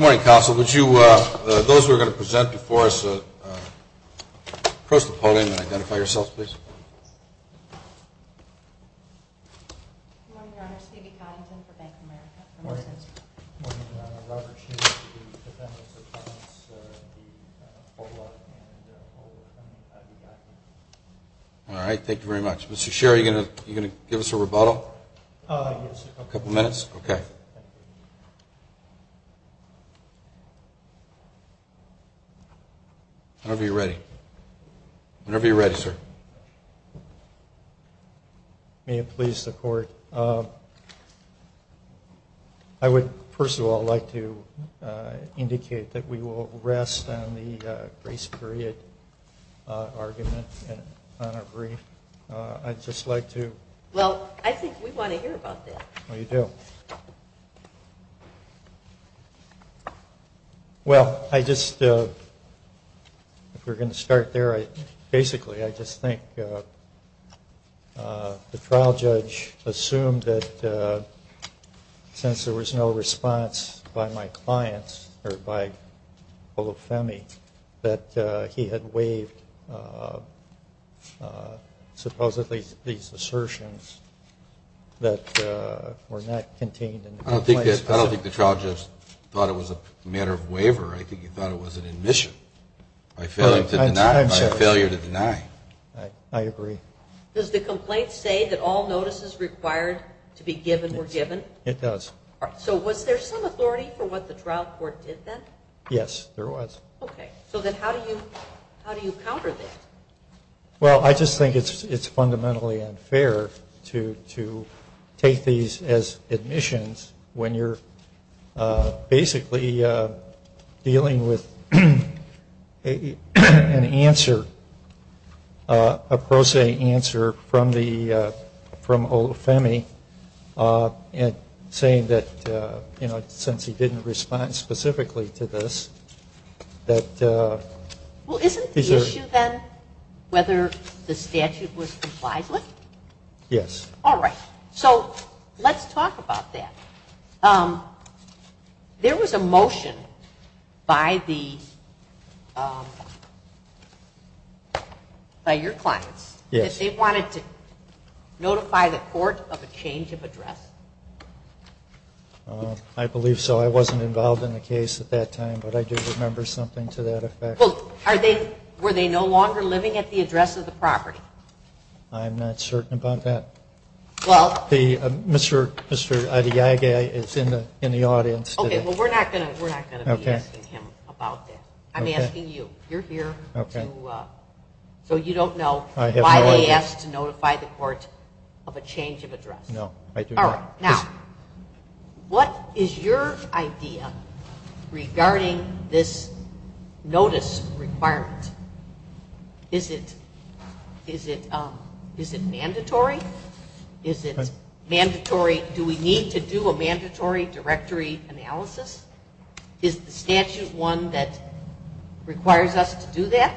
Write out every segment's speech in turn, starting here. Good morning, Council. Would you, those who are going to present before us, cross the podium and identify yourselves, please. Good morning, Your Honor. Stevie Coddington for Bank of America. Good morning. Good morning, Your Honor. Robert Shearer, the defendants of Thomas B. Polak and Ola Adeyiga. All right. Thank you very much. Mr. Shearer, are you going to give us a rebuttal? Yes. A couple minutes? Okay. Whenever you're ready. Whenever you're ready, sir. May it please the court? I would, first of all, like to indicate that we will rest on the grace period argument on our brief. I'd just like to. Well, I think we want to hear about that. We do. Well, I just, if we're going to start there, basically, I just think the trial judge assumed that since there was no response by my clients, or by Olufemi, that he had waived supposedly these assertions that were not contained in the complaint. I don't think the trial judge thought it was a matter of waiver. I think he thought it was an admission, a failure to deny. I agree. Does the complaint say that all notices required to be given were given? It does. All right. So was there some authority for what the trial court did then? Yes, there was. Okay. So then how do you counter this? Well, I just think it's fundamentally unfair to take these as admissions when you're basically dealing with an answer, a pro se answer from Olufemi, and saying that since he didn't respond specifically to this, that these are – Well, isn't the issue then whether the statute was complied with? Yes. All right. So let's talk about that. There was a motion by the, by your clients, that they wanted to notify the court of a change of address. I believe so. I wasn't involved in the case at that time, but I do remember something to that effect. Were they no longer living at the address of the property? I'm not certain about that. Mr. Adeyaghe is in the audience today. Okay. Well, we're not going to be asking him about that. I'm asking you. You're here to – so you don't know why they asked to notify the court of a change of address. No. I do not. All right. Now, what is your idea regarding this notice requirement? Is it, is it, is it mandatory? Is it mandatory – do we need to do a mandatory directory analysis? Is the statute one that requires us to do that?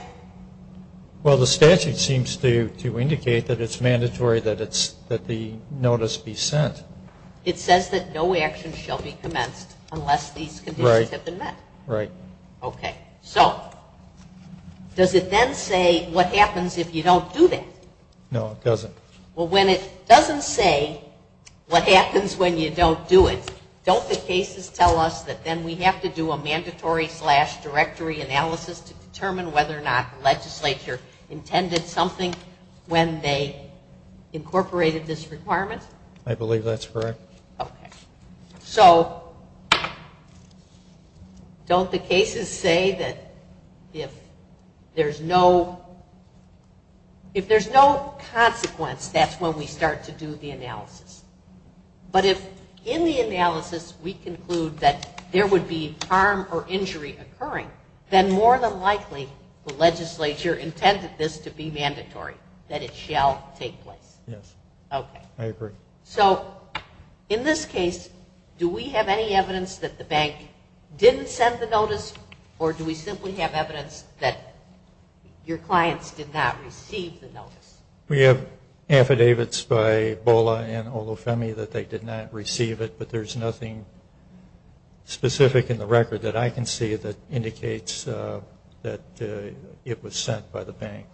Well, the statute seems to, to indicate that it's mandatory that it's, that the notice be sent. It says that no action shall be commenced unless these conditions have been met. Right. Right. Okay. So, does it then say what happens if you don't do that? No. It doesn't. Well, when it doesn't say what happens when you don't do it, don't the cases tell us that then we have to do a mandatory slash directory analysis to determine whether or not the legislature intended something when they incorporated this requirement? I believe that's correct. Okay. So, don't the cases say that if there's no, if there's no consequence, that's when we start to do the analysis? But if in the analysis we conclude that there would be harm or injury occurring, then more than likely the legislature intended this to be mandatory, that it shall take place. Yes. Okay. I agree. So, in this case, do we have any evidence that the bank didn't send the notice or We have affidavits by BOLA and OLOFEMI that they did not receive it, but there's nothing specific in the record that I can see that indicates that it was sent by the bank.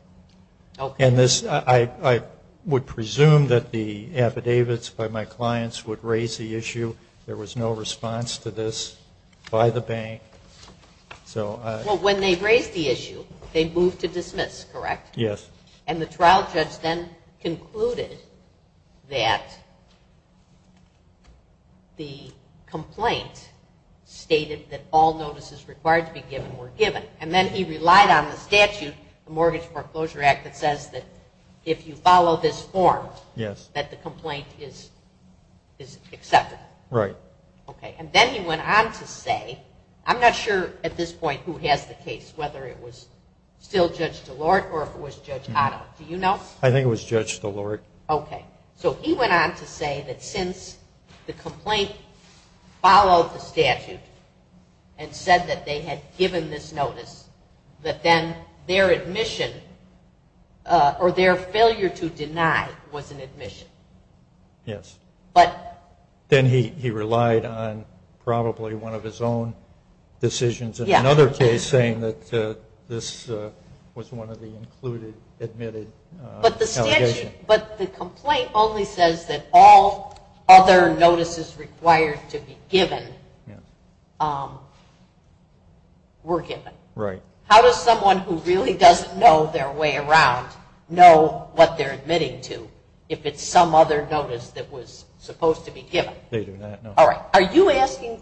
Okay. And this, I would presume that the affidavits by my clients would raise the issue. There was no response to this by the bank, so I Well, when they raised the issue, they moved to dismiss, correct? Yes. And the trial judge then concluded that the complaint stated that all notices required to be given were given. And then he relied on the statute, the Mortgage Foreclosure Act, that says that if you follow this form, that the complaint is acceptable. Right. Okay. And then he went on to say, I'm not sure at this point who has the case, whether it was still Judge DeLorte or if it was Judge Cotto. Do you know? I think it was Judge DeLorte. Okay. So, he went on to say that since the complaint followed the statute and said that they had given this notice, that then their admission or their failure to deny was an admission. Yes. But Then he relied on probably one of his own decisions in another case saying that this was one of the included, admitted allegations. But the statute, but the complaint only says that all other notices required to be given were given. Right. How does someone who really doesn't know their way around know what they're admitting to if it's some other notice that was supposed to be given? They do not know. All right. Are you asking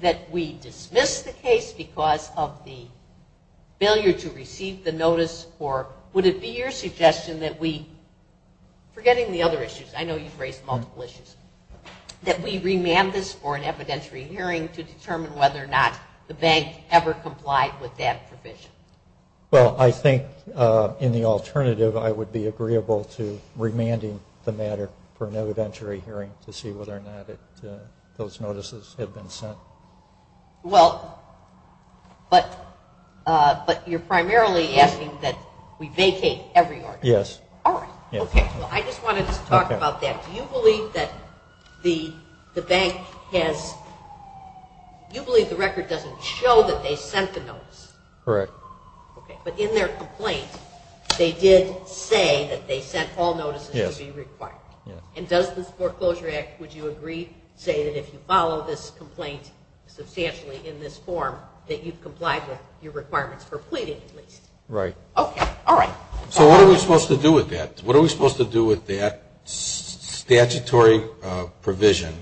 that we dismiss the case because of the failure to receive the notice or would it be your suggestion that we, forgetting the other issues, I know you've raised multiple issues, that we remand this for an evidentiary hearing to determine whether or not the bank ever complied with that provision? Well, I think in the alternative I would be agreeable to remanding the matter for an evidentiary hearing to see whether or not those notices have been sent. Well, but you're primarily asking that we vacate every order. Yes. All right. Okay. Well, I just wanted to talk about that. Do you believe that the bank has, do you believe the record doesn't show that they sent the notice? Correct. Okay. But in their complaint, they did say that they sent all notices to be required. Yes. And does this foreclosure act, would you agree, say that if you follow this complaint substantially in this form that you've complied with your requirements for pleading at least? Right. Okay. All right. So what are we supposed to do with that? What are we supposed to do with that statutory provision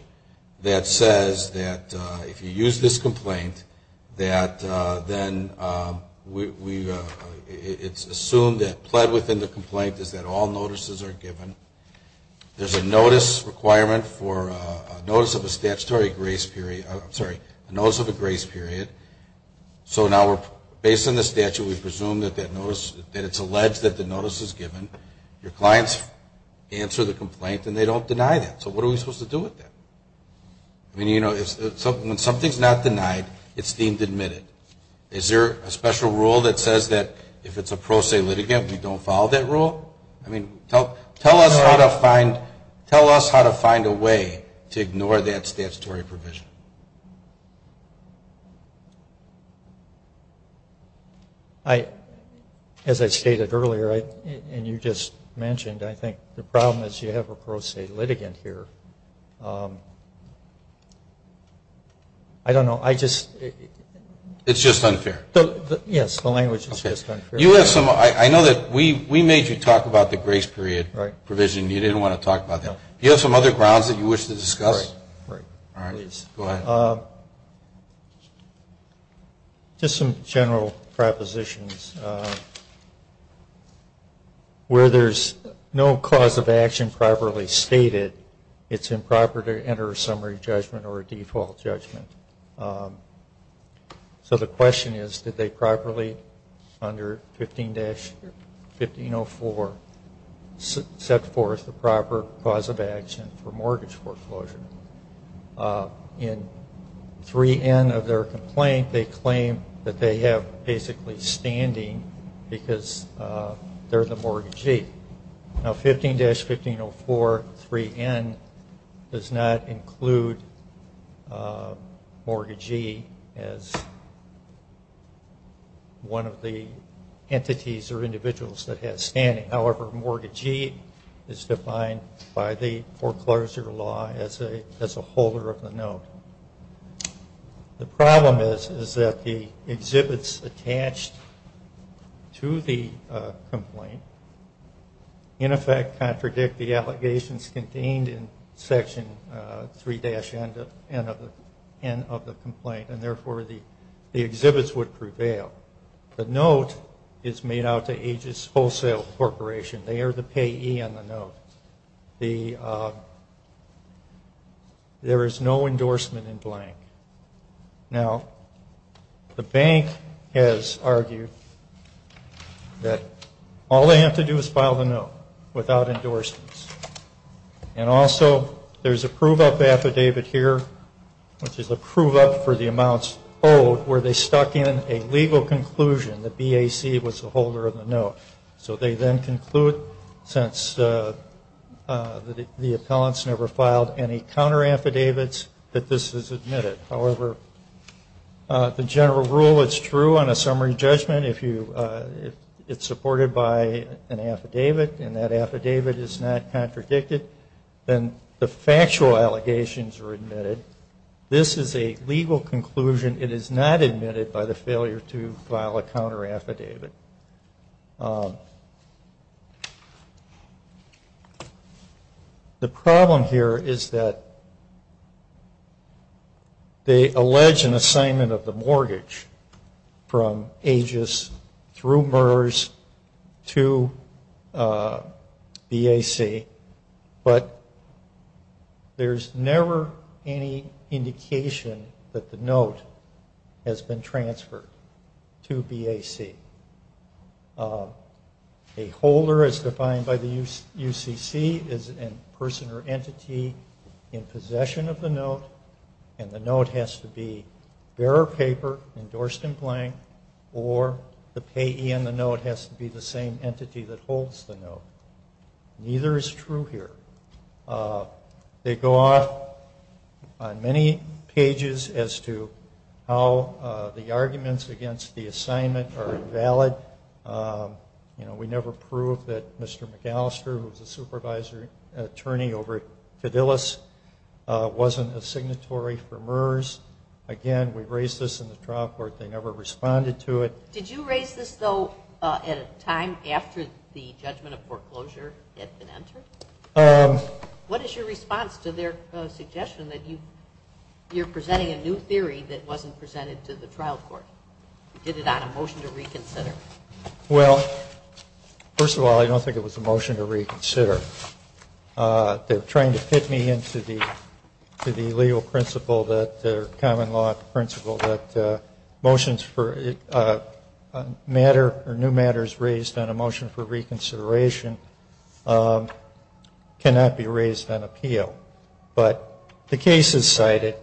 that says that if you use this complaint that then we, it's assumed that pled within the complaint is that all notices are given. There's a notice requirement for a notice of a statutory grace period. I'm sorry, a notice of a grace period. So now we're, based on the statute, we presume that that notice, that it's alleged that the notice is given. Your clients answer the complaint and they don't deny that. So what are we supposed to do with that? I mean, you know, when something's not denied, it's deemed admitted. Is there a special rule that says that if it's a pro se litigant, we don't follow that rule? I mean, tell us how to find, tell us how to find a way to ignore that statutory provision. I, as I stated earlier, and you just mentioned, I think the problem is you have a pro se litigant here. I don't know, I just. It's just unfair. Yes, the language is just unfair. You have some, I know that we made you talk about the grace period provision and you didn't want to talk about that. Do you have some other grounds that you wish to discuss? Right, right. All right, go ahead. Just some general propositions. Where there's no cause of action properly stated, it's improper to enter a summary judgment or a default judgment. So the question is, did they properly, under 15-1504, set forth the proper cause of action for mortgage foreclosure? In 3N of their complaint, they claim that they have basically standing because they're the mortgagee. Now, 15-1504, 3N, does not include mortgagee as one of the entities or individuals that have standing. However, mortgagee is defined by the foreclosure law as a holder of the note. The problem is that the exhibits attached to the complaint in effect contradict the allegations contained in Section 3-N of the complaint, and therefore the exhibits would prevail. The note is made out to Aegis Wholesale Corporation. They are the payee on the note. There is no endorsement in blank. Now, the bank has argued that all they have to do is file the note without endorsements. And also, there's a prove-up affidavit here, which is a prove-up for the amounts owed, but where they stuck in a legal conclusion that BAC was the holder of the note. So they then conclude, since the appellants never filed any counter- affidavits, that this is admitted. However, the general rule is true on a summary judgment. If it's supported by an affidavit and that affidavit is not contradicted, then the factual allegations are admitted. This is a legal conclusion. It is not admitted by the failure to file a counter-affidavit. The problem here is that they allege an assignment of the mortgage from Aegis through MERS to BAC, but there's never any indication that the note has been transferred to BAC. A holder, as defined by the UCC, is a person or entity in possession of the note. The payee in the note has to be the same entity that holds the note. Neither is true here. They go off on many pages as to how the arguments against the assignment are invalid. You know, we never proved that Mr. McAllister, who was the supervisor attorney over at Fidelis, wasn't a signatory for MERS. Again, we raised this in the trial court. They never responded to it. Did you raise this, though, at a time after the judgment of foreclosure had been entered? What is your response to their suggestion that you're presenting a new theory that wasn't presented to the trial court? You did it on a motion to reconsider. Well, first of all, I don't think it was a motion to reconsider. They're trying to fit me into the legal principle that the common law principle that motions for matter or new matters raised on a motion for reconsideration cannot be raised on appeal. But the cases cited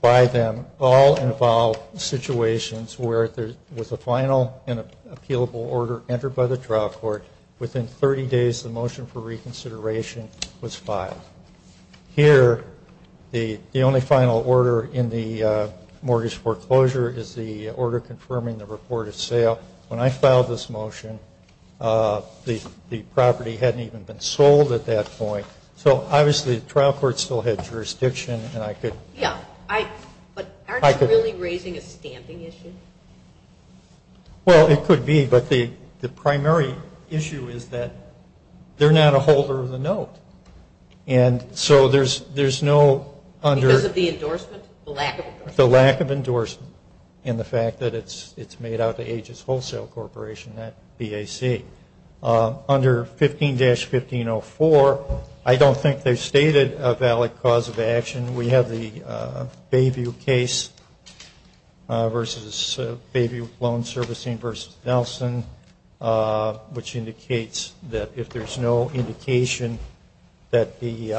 by them all involve situations where there was a final and appealable order entered by the trial court. Within 30 days, the motion for reconsideration was filed. Here, the only final order in the mortgage foreclosure is the order confirming the reported sale. When I filed this motion, the property hadn't even been sold at that point. So, obviously, the trial court still had jurisdiction, and I could. Yeah, but aren't you really raising a stamping issue? Well, it could be, but the primary issue is that they're not a holder of the note. And so there's no under- Because of the endorsement? The lack of endorsement? The lack of endorsement and the fact that it's made out to Aegis Wholesale Corporation, not BAC. Under 15-1504, I don't think they've stated a valid cause of action. We have the Bayview case versus Bayview Loan Servicing versus Nelson, which indicates that if there's no indication that the-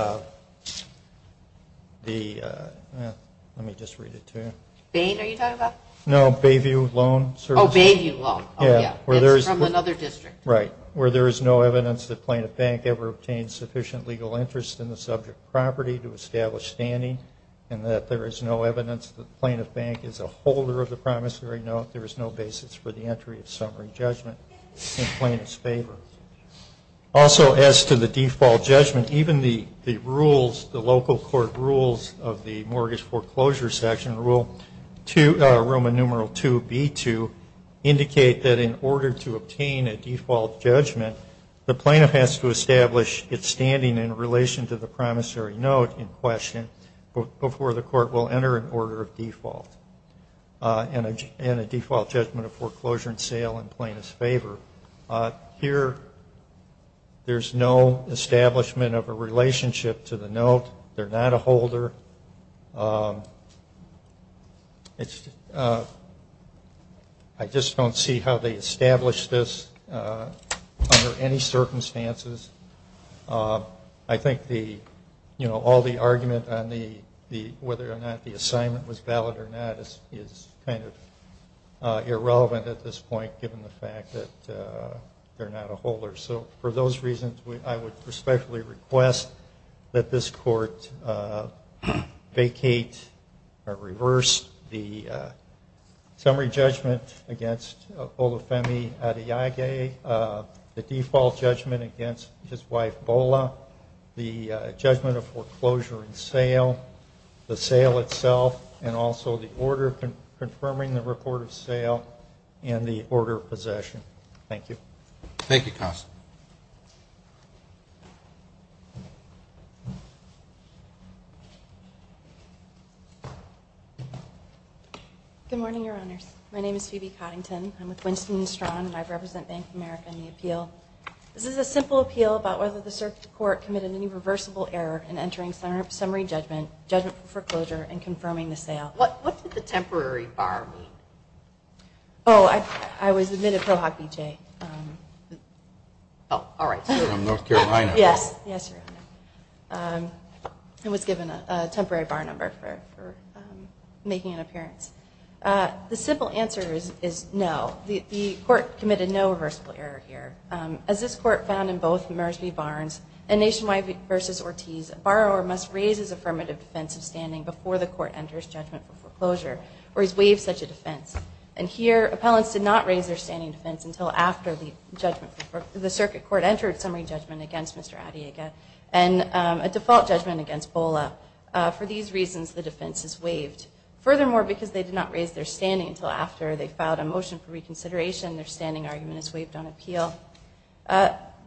Let me just read it to you. Bain, are you talking about? No, Bayview Loan Servicing. Oh, Bayview Loan. Yeah. It's from another district. Right. Where there is no evidence that plaintiff bank ever obtained sufficient legal interest in the subject property to establish standing, and that there is no evidence that plaintiff bank is a holder of the promissory note, there is no basis for the entry of summary judgment in plaintiff's favor. Also, as to the default judgment, even the rules, the local court rules of the mortgage foreclosure section, Rule 2, Roman Numeral 2B2, indicate that in order to obtain a default judgment, the plaintiff has to establish its standing in relation to the promissory note in question before the court will enter an order of default and a default judgment of foreclosure and sale in plaintiff's favor. Here, there's no establishment of a relationship to the note. They're not a holder. I just don't see how they established this under any circumstances. I think all the argument on whether or not the assignment was valid or not is kind of irrelevant at this point, given the fact that they're not a holder. So for those reasons, I would respectfully request that this court vacate or reverse the summary judgment against Olufemi Adeyeghe, the default judgment against his wife, Bola, the judgment of foreclosure and sale, the sale itself, and also the order confirming the report of sale and the order of possession. Thank you. Thank you, counsel. Good morning, Your Honors. My name is Phoebe Coddington. I'm with Winston & Strong, and I represent Bank of America in the appeal. This is a simple appeal about whether the circuit court committed any reversible error in entering summary judgment, judgment for foreclosure, and confirming the sale. What did the temporary bar mean? Oh, I was admitted Pro Hoc B.J. Oh, all right. I'm North Carolina. Yes, yes, Your Honor. I was given a temporary bar number for making an appearance. The simple answer is no. The court committed no reversible error here. As this court found in both Mersby Barnes and Nationwide v. Ortiz, a borrower must raise his affirmative defense of standing before the court enters judgment for foreclosure, or he's waived such a defense. And here, appellants did not raise their standing defense until after the circuit court entered summary judgment against Mr. Adeyeghe and a default judgment against Bola. For these reasons, the defense is waived. Furthermore, because they did not raise their standing until after they filed a motion for reconsideration, their standing argument is waived on appeal.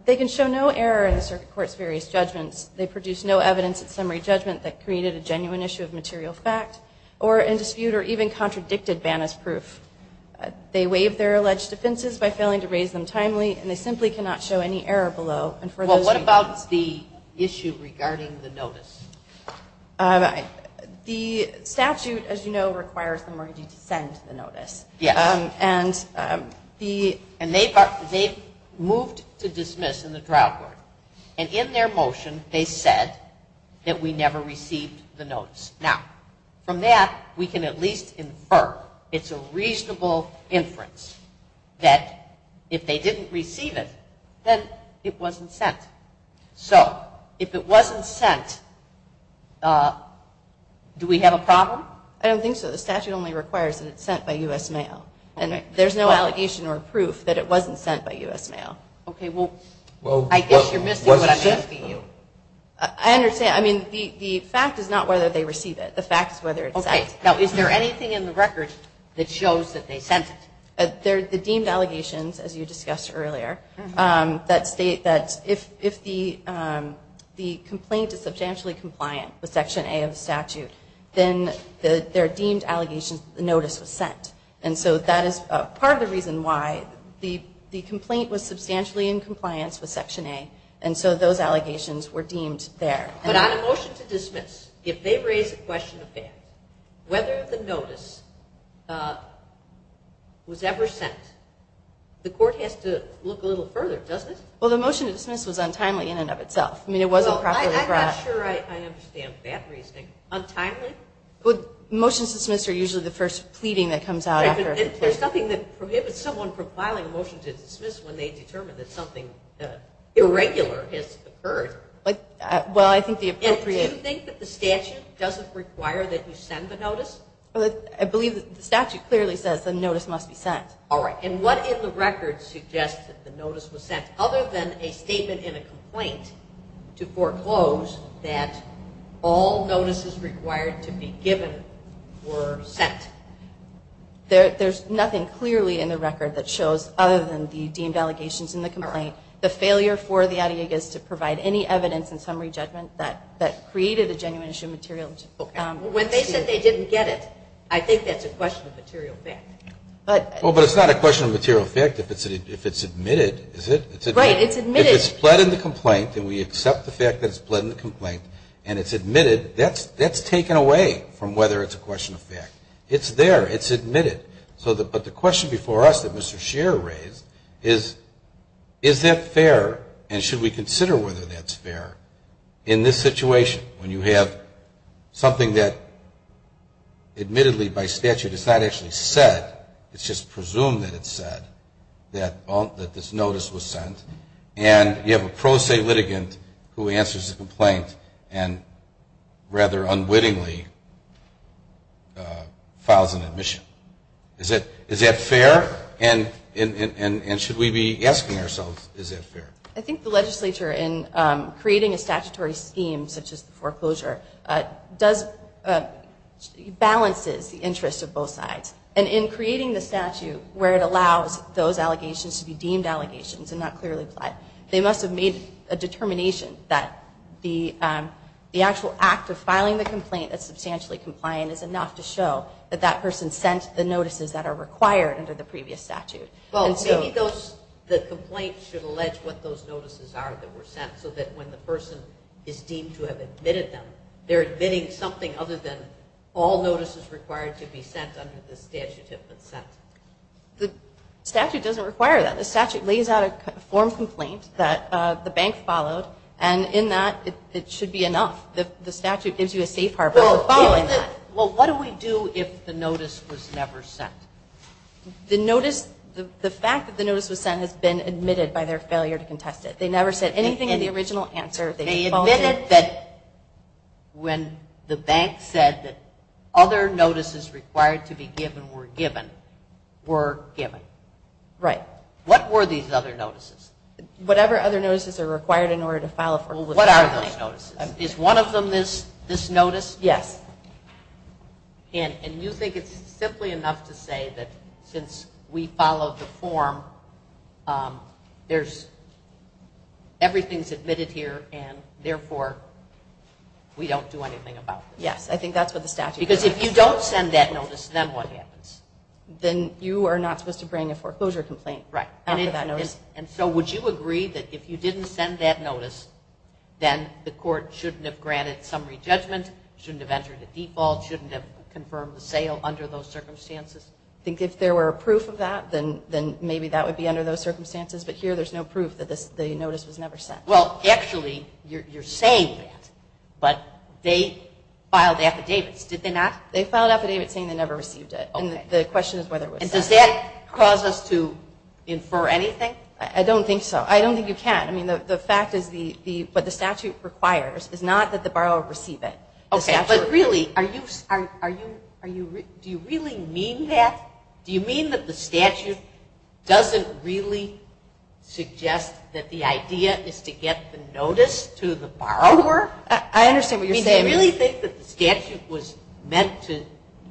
They can show no error in the circuit court's various judgments. They produced no evidence at summary judgment that created a genuine issue of material fact or in dispute or even contradicted Banna's proof. They waived their alleged defenses by failing to raise them timely, and they simply cannot show any error below and for those reasons. Well, what about the issue regarding the notice? Um, the statute, as you know, requires the mortgagee to send the notice. Yes. And, um, the... And they've moved to dismiss in the trial court, and in their motion, they said that we never received the notice. Now, from that, we can at least infer it's a reasonable inference that if they didn't receive it, then it wasn't sent. So if it wasn't sent, uh, do we have a problem? I don't think so. The statute only requires that it's sent by U.S. mail, and there's no allegation or proof that it wasn't sent by U.S. mail. Okay, well, I guess you're missing what I'm asking you. I understand. I mean, the fact is not whether they receive it. The fact is whether it's sent. Okay, now, is there anything in the record that shows that they sent it? There are the deemed allegations, as you discussed earlier, um, that state that if the, um, the complaint is substantially compliant with Section A of the statute, then there are deemed allegations that the notice was sent. And so that is part of the reason why the complaint was substantially in compliance with Section A, and so those allegations were deemed there. But on a motion to dismiss, if they raise the question of that, whether the notice, uh, was ever sent, the court has to look a little further, doesn't it? Well, the motion to dismiss was untimely in and of itself. I mean, it wasn't properly brought up. Well, I'm not sure I understand that reasoning. Untimely? Well, motions to dismiss are usually the first pleading that comes out after a complaint. Right, but there's nothing that prohibits someone from filing a motion to dismiss when they determine that something, uh, irregular has occurred. Like, uh, well, I think the appropriate... And do you think that the statute doesn't require that you send the notice? I believe that the statute clearly says the notice must be sent. All right. And what in the record suggests that the notice was sent other than a statement in a complaint to foreclose that all notices required to be given were sent? There, there's nothing clearly in the record that shows, other than the deemed allegations in the complaint, the failure for the Adiegas to provide any evidence in summary judgment that, that created a genuine issue of material... Okay. When they said they didn't get it, I think that's a question of material fact. But... Well, but it's not a question of material fact if it's admitted, is it? Right. It's admitted. If it's pled in the complaint and we accept the fact that it's pled in the complaint and it's admitted, that's taken away from whether it's a question of fact. It's there. It's admitted. So the, but the question before us that Mr. Scheer raised is, is that fair and should we consider whether that's fair in this situation when you have something that admittedly by statute is not actually said it's just presumed that it's said that all, that this notice was sent and you have a pro se litigant who answers the complaint and rather unwittingly files an admission. Is that, is that fair and, and, and should we be asking ourselves is that fair? I think the legislature in creating a statutory scheme such as the foreclosure does, balances the interest of both sides and in creating the statute where it allows those allegations to be deemed allegations and not clearly applied. They must have made a determination that the, the actual act of filing the complaint that's substantially compliant is enough to show that that person sent the notices that are required under the previous statute. Well, maybe those, the complaint should allege what those notices are that were sent so that when the person is deemed to have admitted them they're admitting something other than all notices required to be sent under the statute have been sent. The statute doesn't require that. The statute lays out a form complaint that the bank followed and in that it should be enough. The statute gives you a safe harbor for following that. Well, what do we do if the notice was never sent? The notice, the fact that the notice was sent has been admitted by their failure to contest it. They never said anything in the original answer. They admitted that when the bank said that other notices required to be given were given, were given. Right. What were these other notices? Whatever other notices are required in order to file a complaint. What are those notices? Is one of them this notice? Yes. And you think it's simply enough to say that since we followed the form, there's, everything's admitted here and therefore we don't do anything about this? Yes. I think that's what the statute says. Because if you don't send that notice, then what happens? Then you are not supposed to bring a foreclosure complaint. Right. And so would you agree that if you didn't send that notice, then the court shouldn't have granted summary judgment, shouldn't have entered the default, shouldn't have confirmed the sale under those circumstances? I think if there were proof of that, then maybe that would be under those circumstances. But here there's no proof that the notice was never sent. Well, actually, you're saying that, but they filed affidavits, did they not? They filed affidavits saying they never received it. And the question is whether it was sent. And does that cause us to infer anything? I don't think so. I don't think you can. I mean, the fact is what the statute requires is not that the borrower received it. But really, do you really mean that? Do you mean that the statute doesn't really suggest that the idea is to get the notice to the borrower? I understand what you're saying. Do you really think that the statute was meant to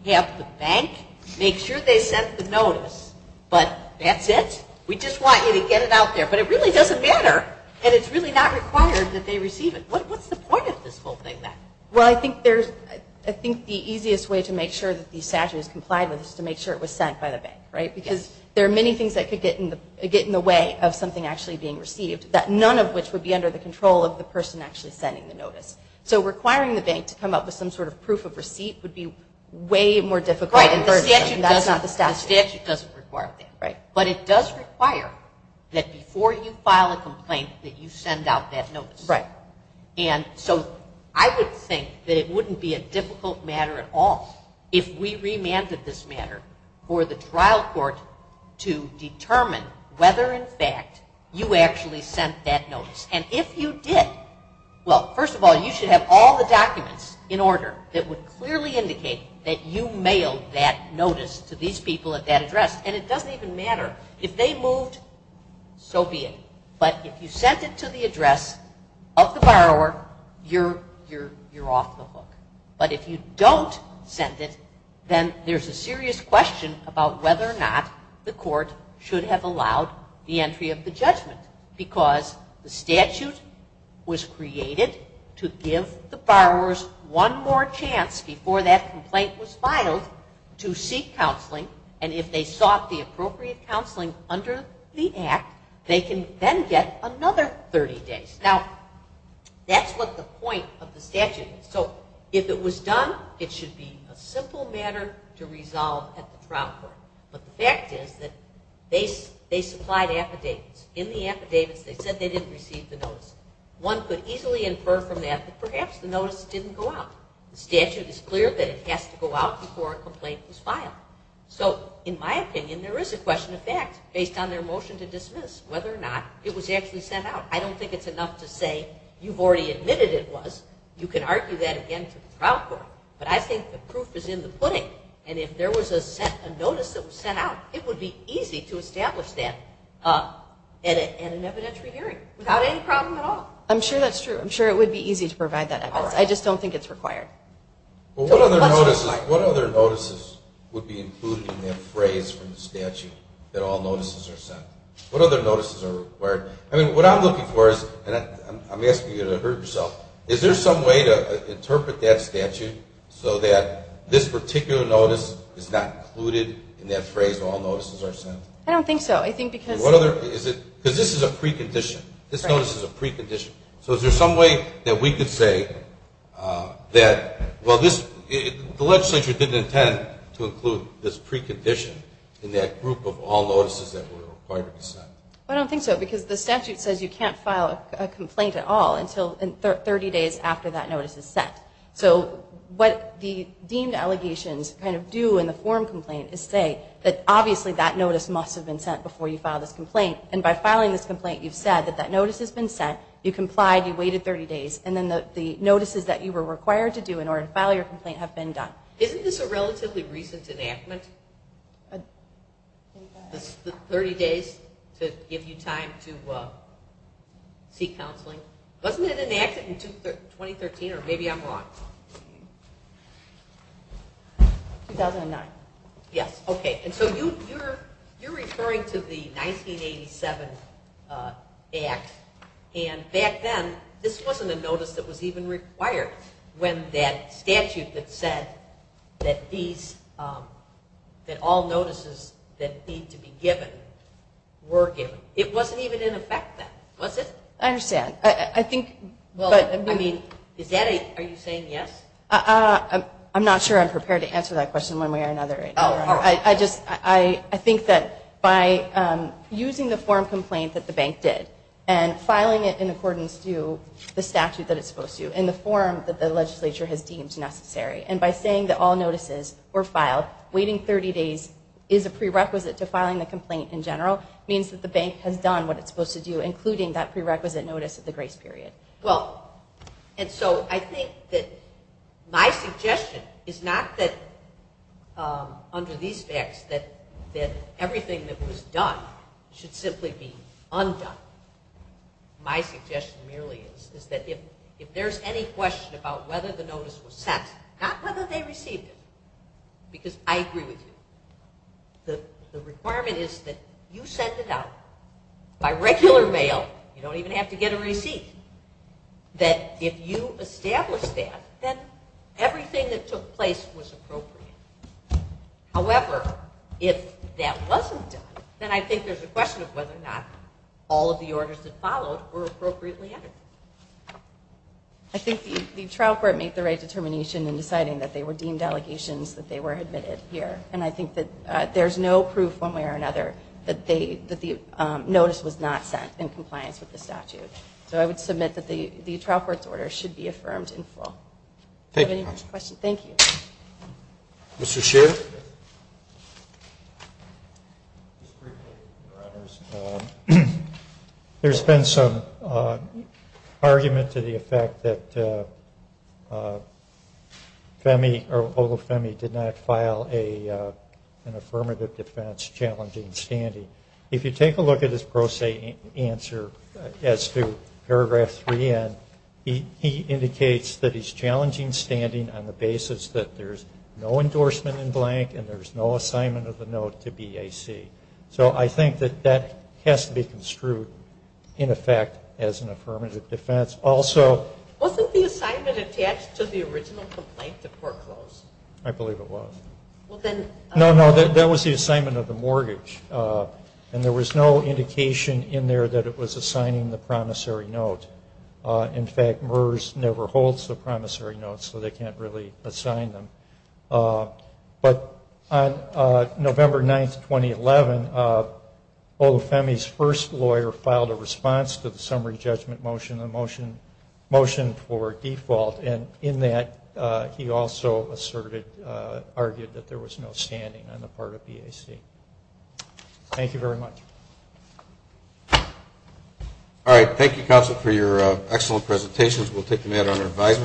have the bank make sure they sent the notice? But that's it? We just want you to get it out there. But it really doesn't matter. And it's really not required that they receive it. What's the point of this whole thing then? Well, I think the easiest way to make sure that the statute is complied with is to make sure it was sent by the bank. Because there are many things that could get in the way of something actually being sent. So I think that it would be a difficult matter at all if we remanded this matter for the trial court to determine whether in fact you actually sent that notice. And if you did, well, first of all, you should have all the documents in order that would clearly indicate that you mailed that notice to these people at And if you sent it to the address of the borrower, you're off the hook. But if you don't send it, then there's a serious question about whether or not the court should have allowed the entry of the judgment. Because the statute was created to give the borrowers one more chance before that complaint was filed to seek counseling. And if they sought the appropriate counseling under the Act, they can then get another 30 days. Now, that's what the point of the statute is. So, if it was done, it should be a simple matter to resolve at the trial court. But the fact is that they supplied affidavits. In the affidavits, they said they didn't receive the notice. One could easily infer from that that perhaps the notice didn't go out. The statute is clear that it has to go out before a complaint was filed. So, in my opinion, there is a question of fact based on an evidentiary hearing without any problem at all. I'm sure that's true. I'm sure it would be easy to provide that evidence. I just don't think it's required. Well, what other notices would be included in that phrase from the statute that all notices are sent? What other notices are required? I mean, what I'm saying is that the statute says you can't file a complaint at all until 30 days after that notice is set. deemed allegations kind of do in the form complaint is say that obviously that notice must have been sent before. So, the statute says you can't file a days after that notice has been sent before you file this complaint. And by filing this complaint you've said that that notice has been sent, you complied, you waited 30 days, and then the notices that you were required to do in order to file your complaint have been done. Isn't this a relatively recent enactment? 30 days to give you time to seek counseling? Wasn't it enacted in 2013 or maybe I'm wrong? 2009. Yes, okay. And so you're referring to the 1987 act and back then this wasn't a notice that was even required when that statute that said that these that all notices that need to be given were given. It wasn't even in effect then, was it? I understand. I think but I mean is that a are you saying yes? I'm not sure I'm prepared to answer that question one way or another right now. I just I think that by using the form complaint that the bank did and filing it in accordance to the statute that it's supposed to in the form that the legislature has deemed necessary and by saying that all notices were filed waiting 30 days is a prerequisite to filing the complaint in general means that the bank has done what it's supposed to do including that prerequisite notice of the grace period. Well and so I think that my suggestion is not that under these facts that that everything that was done should simply be undone. My suggestion merely is is that if there's any question about whether the notice was sent not whether they received it because I agree with you the requirement is that you send it out by regular mail you don't even have to get a receipt that if you establish that then everything that took place was appropriate. However if that wasn't done then I think there's a question of whether or not all of the orders that followed were appropriately entered. I think the trial court made the right determination in deciding that they were deemed allegations that they were admitted here. And I think that there's no proof or another that the notice was not sent in compliance with the statute. So I would submit that the trial court's order should be affirmed in full. If you have any more questions, thank you. Mr. Scheer? There's been some argument to the effect that Olufemi did not file an affirmative defense challenging standing. If you take a look at his pro se answer as to paragraph 3 and again, he indicates that he's challenging standing on the basis that there's no endorsement in blank no assignment of the note to BAC. So I think that that has to be construed in effect as an affirmative defense. Also Wasn't the assignment attached to the original complaint that foreclosed? I believe it was. No, no, that was the assignment of the mortgage. And there was no indication in there that it was assigning the promissory note. In fact, Femi's first lawyer filed a response to the summary judgment motion motion for default and in that he also asserted argued was no standing on the part of BAC. Thank you very much. Alright, thank you counsel for your excellent presentations. We'll take break.